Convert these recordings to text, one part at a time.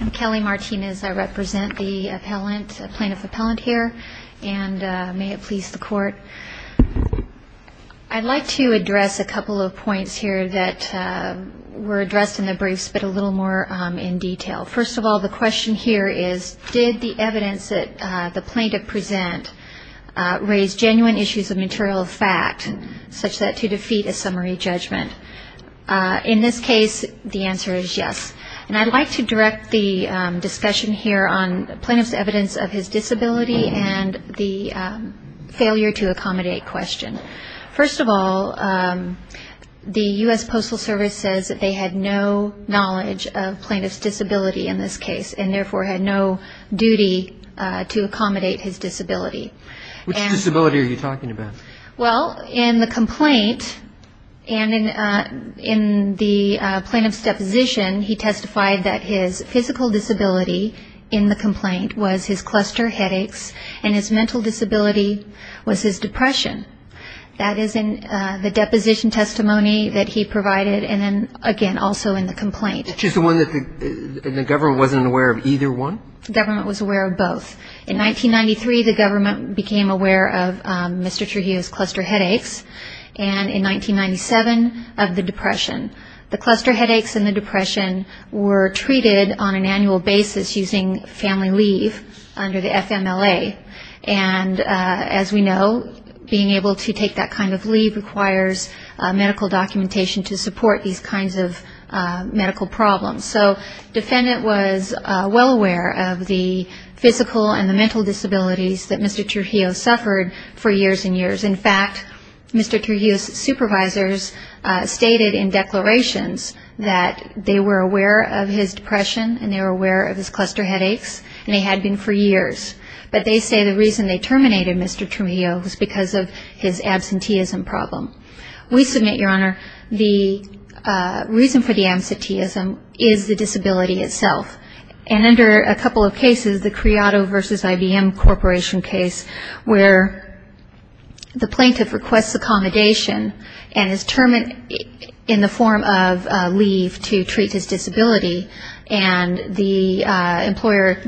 I'm Kelly Martinez. I represent the plaintiff appellant here, and may it please the court. I'd like to address a couple of points here that were addressed in the briefs, but a little more in detail. First of all, the question here is, did the evidence that the plaintiff present raise genuine issues of material fact, such that to defeat a summary judgment? In this case, the answer is yes. And I'd like to direct the discussion here on plaintiff's evidence of his disability and the failure to accommodate question. First of all, the US Postal Service says that they had no knowledge of plaintiff's disability in this case, and therefore had no duty to accommodate his disability. Which disability are you talking about? Well, in the complaint, and in the plaintiff's deposition, he testified that his physical disability in the complaint was his cluster headaches, and his mental disability was his depression. That is in the deposition testimony that he provided, and then again, also in the complaint. Which is the one that the government wasn't aware of either one? Government was aware of both. In 1993, the government became aware of Mr. Trujillo's cluster headaches, and in 1997, of the depression. The cluster headaches and the depression were treated on an annual basis using family leave under the FMLA. And as we know, being able to take that kind of leave requires medical documentation to support these kinds of the physical and the mental disabilities that Mr. Trujillo suffered for years and years. In fact, Mr. Trujillo's supervisors stated in declarations that they were aware of his depression, and they were aware of his cluster headaches, and they had been for years. But they say the reason they terminated Mr. Trujillo was because of his absenteeism problem. We submit, Your Honor, the reason for the absenteeism is the disability itself. And under a couple of cases, the Criado versus IBM Corporation case, where the plaintiff requests accommodation and is termed in the form of leave to treat his disability, and the employer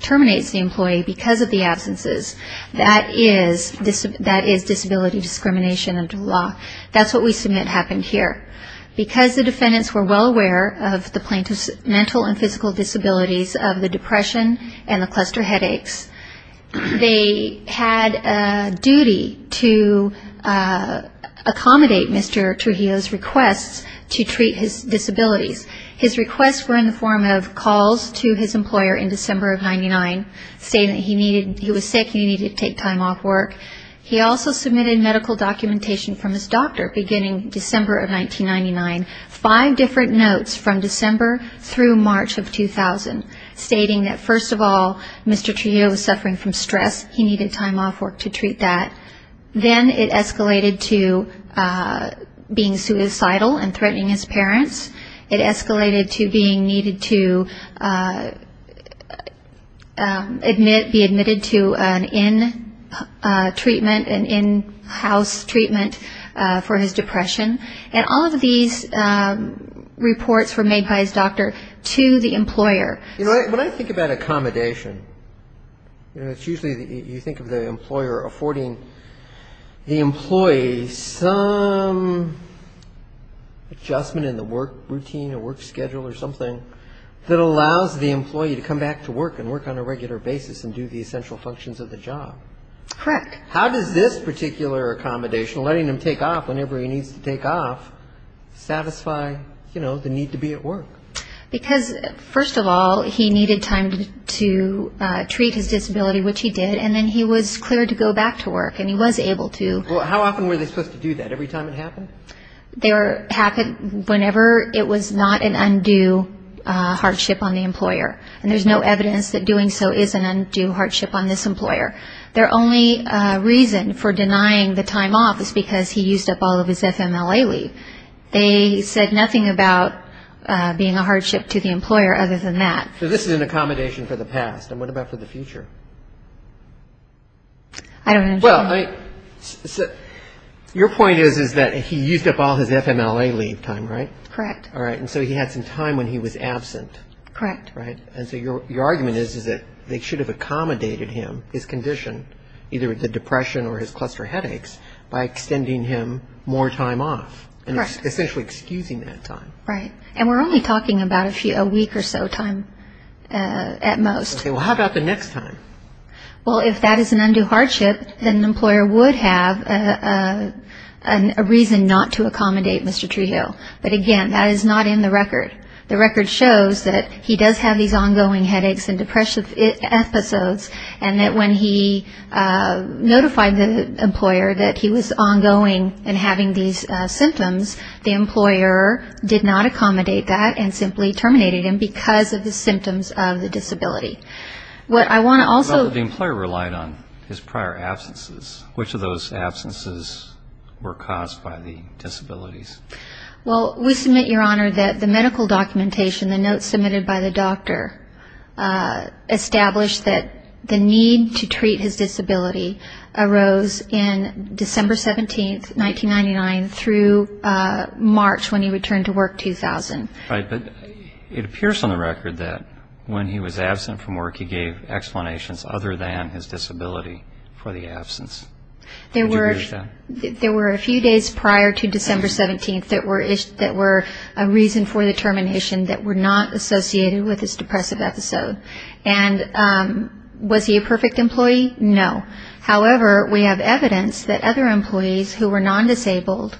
terminates the employee because of the absences, that is disability discrimination under the law. That's what we submit happened here. Because the defendants were well aware of the plaintiff's mental and physical disabilities of the depression and the cluster headaches, they had a duty to accommodate Mr. Trujillo's requests to treat his disabilities. His requests were in the form of calls to his employer in December of 1999, stating that he was sick and he needed to take time off work. He also submitted medical documentation from his doctor beginning December of 1999, five different notes from December through March of 2000, stating that, first of all, Mr. Trujillo was suffering from stress. He needed time off work to treat that. Then it escalated to being suicidal and threatening his parents. It escalated to being needed to be admitted to an in treatment, an in-house treatment for his depression. And all of these reports were made by his doctor to the employer. When I think about accommodation, it's usually you think of the employer affording the employee some adjustment in the work routine or work schedule or something that allows the employee to come back to work and work on a regular basis and do the essential functions of the job. Correct. How does this particular accommodation, letting him take off whenever he needs to take off, satisfy the need to be at work? Because, first of all, he needed time to treat his disability, which he did, and then he was cleared to go back to work, and he was able to. How often were they supposed to do that? Every time it happened? They were, whenever it was not an undue hardship on the employer. And there's no evidence that doing so is an undue hardship on this employer. Their only reason for denying the time off is because he used up all of his FMLA leave. They said nothing about being a hardship to the employer other than that. So this is an accommodation for the past, and what about for the future? I don't understand. Well, your point is that he used up all his FMLA leave time, right? Correct. All right. And so he had some time when he was absent. Correct. Right. And so your argument is that they should have accommodated him, his condition, either the depression or his cluster headaches, by extending him more time off. Correct. Essentially excusing that time. Right. And we're only talking about a week or so time at most. Okay. Well, how about the next time? Well, if that is an undue hardship, then an employer would have a reason not to accommodate Mr. Treehill. But again, that is not in the record. The record shows that he does have these ongoing headaches and depression episodes, and that when he notified the employer that he was ongoing and having these symptoms, the employer did not accommodate that and simply terminated him because of the symptoms of the disability. What I want to also... But the employer relied on his prior absences. Which of those absences were caused by the disabilities? Well, we submit, Your Honor, that the medical documentation, the notes submitted by the doctor, established that the need to treat his disability arose in December 17, 1999, through March when he returned to work 2000. Right. But it appears on the record that when he was absent from work, he gave explanations other than his disability for the absence. There were a few days prior to December 17 that were a reason for the termination that were not associated with his depressive episode. And was he a perfect employee? No. However, we have evidence that other employees who were non-disabled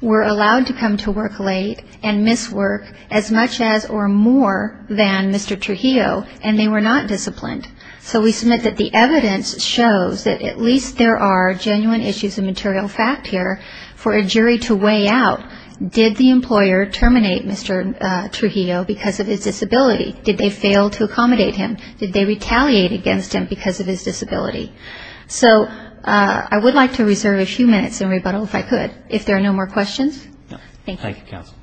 were allowed to come to work late and miss work as much as or more than Mr. Trujillo, and they were not disciplined. So we submit that the evidence shows that at least there are genuine issues of material fact here for a jury to weigh out. Did the employer terminate Mr. Trujillo because of his disability? Did they fail to accommodate him? Did they retaliate against him because of his disability? So I would like to reserve a few minutes in rebuttal, if I could, if there are no more questions. Thank you. Thank you, counsel.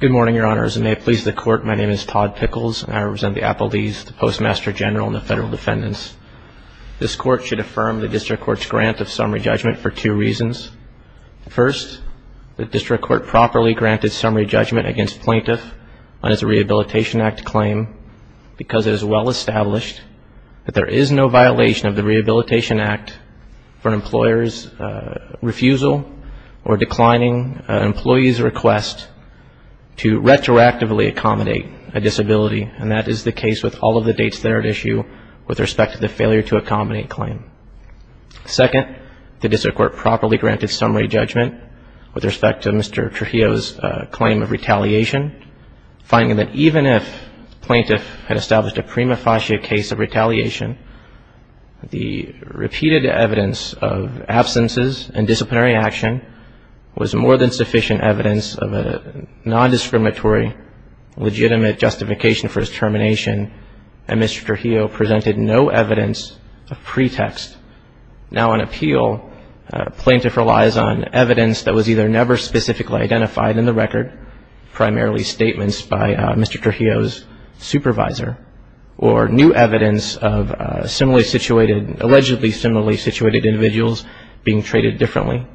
Good morning, Your Honors, and may it please the Court, my name is Todd Pickles, and I represent the appellees, the Postmaster General, and the Federal Defendants. This Court should affirm the District Court's grant of summary judgment for two reasons. First, the District Court properly granted summary judgment against plaintiff on his Rehabilitation Act claim because it is well established that there is no violation of the Rehabilitation Act for an employer's refusal or declining an employee's request to retroactively accommodate a disability, and that is the case with all of the dates that are at issue with respect to the failure to accommodate claim. Second, the District Court properly granted summary judgment with respect to Mr. Trujillo's claim of retaliation, finding that even if the plaintiff had established a prima facie case of retaliation, the repeated evidence of absences and disciplinary action was more than sufficient evidence of a non-discriminatory, legitimate justification for his termination, and Mr. Trujillo presented no evidence of pretext. Now, on appeal, a plaintiff relies on evidence that was either never specifically identified in the record, primarily statements by Mr. Trujillo's supervisor, or new evidence of allegedly similarly situated individuals being treated differently.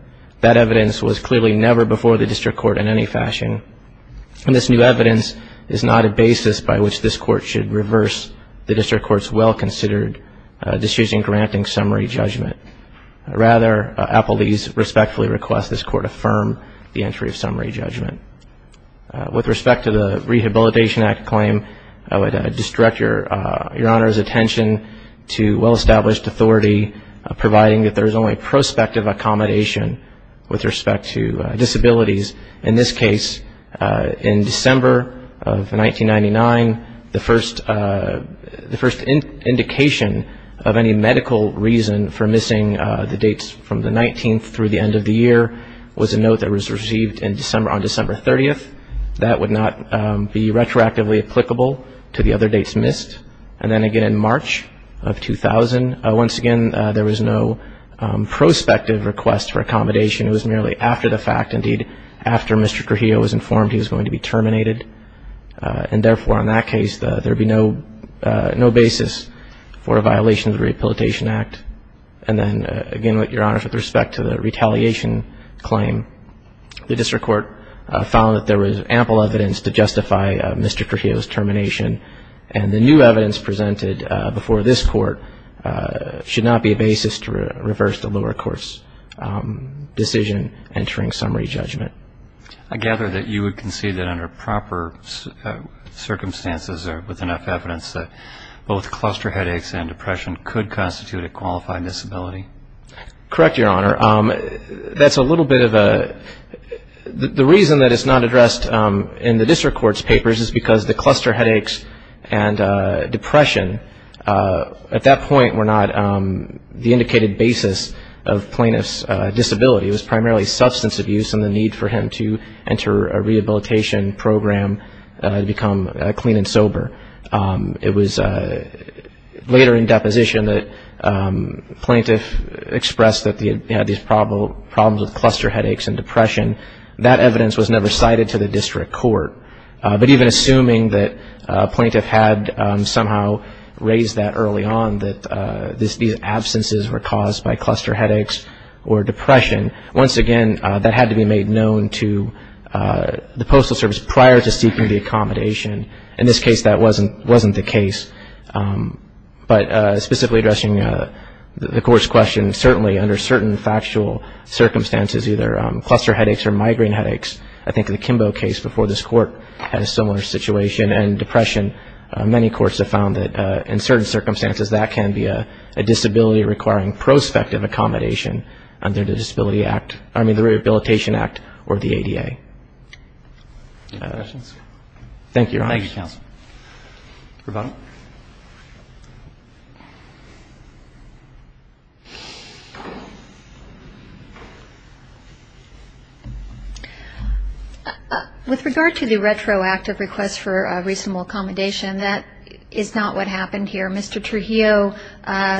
That evidence was clearly never before the District Court in any fashion, and this new evidence is not a basis by which this Court should reverse the District Court's well-considered decision granting summary judgment. Rather, appellees respectfully request this Court affirm the entry of summary judgment. With respect to the Rehabilitation Act claim, I would direct Your Honor's attention to well established authority, providing that there is only prospective accommodation with respect to disabilities. In this case, in December of 1999, the first indication of any medical reason for missing the dates from the 19th through the end of the year was a note that was received on December 30th. That would not be retroactively applicable to the other dates missed. And then again in March of 2000, once again, there was no prospective request for accommodation. It was merely after the fact. Indeed, after Mr. Trujillo was informed he was going to be terminated, and therefore on that case, there would be no basis for a violation of the Rehabilitation Act. And then again, Your Honor, with respect to the Retaliation Claim, the District Court found that there was ample evidence to justify Mr. Trujillo's termination, and the new evidence presented before this Court should not be a basis to reverse the lower court's decision entering summary judgment. I gather that you would concede that under proper circumstances or with enough evidence that both cluster headaches and depression could constitute a qualified disability? Correct, Your Honor. That's a little bit of a... The reason that it's not addressed in the District Court's papers is because the cluster headaches and depression at that point were not the indicated basis of plaintiff's disability. It was primarily substance abuse and the need for him to enter a rehabilitation program to become clean and sober. It was later in deposition that plaintiff expressed that he had these problems with cluster headaches and depression. That evidence was never cited to the District Court. But even assuming that a plaintiff had somehow raised that early on, that these absences were caused by cluster headaches or depression, once again, that had to be made known to the Postal Service prior to seeking the accommodation. In this case, that wasn't the case. But specifically addressing the Court's question, certainly under certain factual circumstances, either cluster headaches or migraine headaches, I think in the Kimbo case before this Court had a similar situation, and depression, many courts have found that in certain circumstances, that can be a disability requiring prospective accommodation under the Disability Act, I mean the Rehabilitation Act or the ADA. Thank you, Your Honor. Thank you, Counsel. Ravonna? With regard to the retroactive request for reasonable accommodation, that is not what happened here. Mr. Trujillo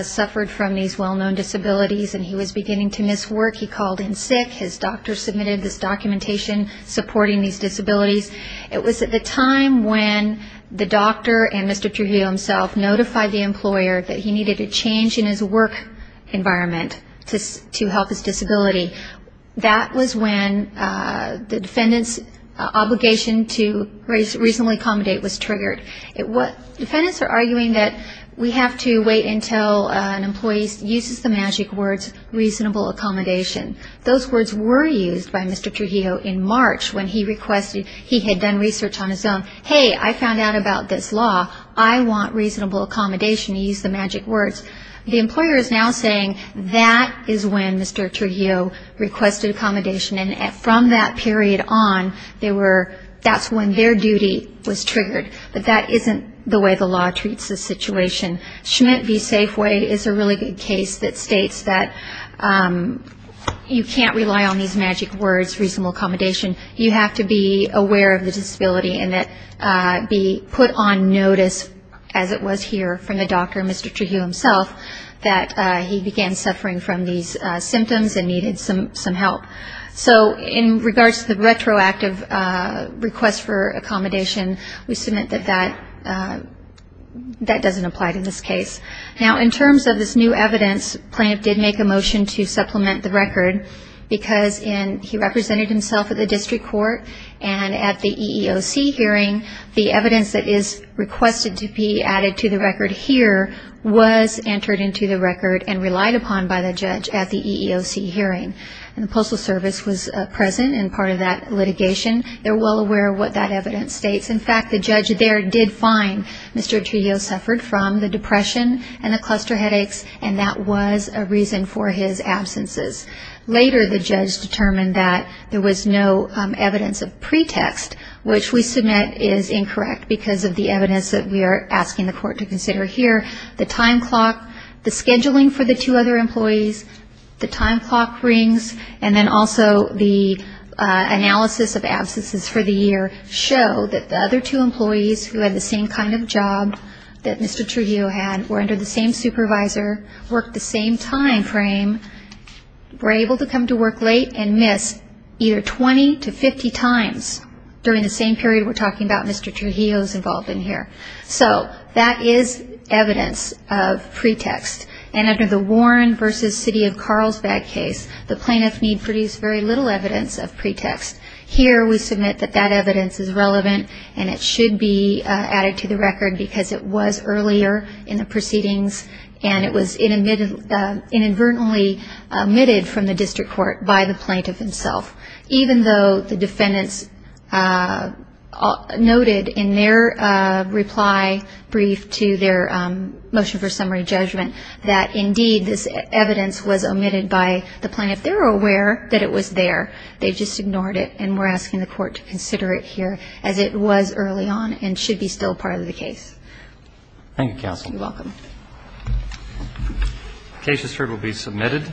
suffered from these well-known disabilities and he was beginning to miss work. He called in sick. His doctor submitted this documentation supporting these disabilities. It was at the time when the doctor and Mr. Trujillo himself notified the employer that he needed a change in his work environment to help his disability. That was when the defendant's obligation to reasonably accommodate was triggered. Defendants are arguing that we have to wait until an employee uses the magic words reasonable accommodation. Those words were used by Mr. Trujillo in March when he had done research on his own. Hey, I found out about this law. I want reasonable accommodation. He used the magic words. The employer is now saying that is when Mr. Trujillo requested accommodation and from that period on, that's when their duty was triggered. But that isn't the way the law treats this situation. Schmidt v. Safeway is a really good case that states that you can't rely on these magic words reasonable accommodation. You have to be aware of the disability and be put on notice as it was here from the doctor and Mr. Trujillo himself that he began suffering from these symptoms and needed some help. So in regards to the retroactive request for accommodation, we submit that that doesn't apply to this case. Now, in terms of this new evidence, the plaintiff did make a motion to supplement the record because he represented himself at the district court and at the EEOC hearing, the evidence that is requested to be added to the record here was entered into the record and relied upon by the judge at the EEOC hearing. The Postal Service was present in part of that litigation. They're well aware of what that evidence states. In fact, the judge there did find Mr. Trujillo suffered from the depression and the cluster headaches and that was a reason for his absences. Later, the judge determined that there was no evidence of pretext, which we submit is incorrect because of the evidence that we are asking the court to consider here. The time clock, the scheduling for the two other employees, the time clock rings, and also the analysis of absences for the year show that the other two employees who had the same kind of job that Mr. Trujillo had were under the same supervisor, worked the same time frame, were able to come to work late and miss either 20 to 50 times during the same period we're talking about Mr. Trujillo's involvement here. So that is evidence of pretext and under the Warren v. City of Carlsbad case, the plaintiff need produce very little evidence of pretext. Here we submit that that evidence is relevant and it should be added to the record because it was earlier in the proceedings and it was inadvertently omitted from the district court by the plaintiff himself. Even though the defendants noted in their reply brief to their motion for summary judgment that indeed this evidence was omitted by the plaintiff, they're aware that it was there. They just ignored it and we're asking the court to consider it here as it was early on and should be still part of the case. Thank you, counsel. You're welcome. The case is heard and will be submitted.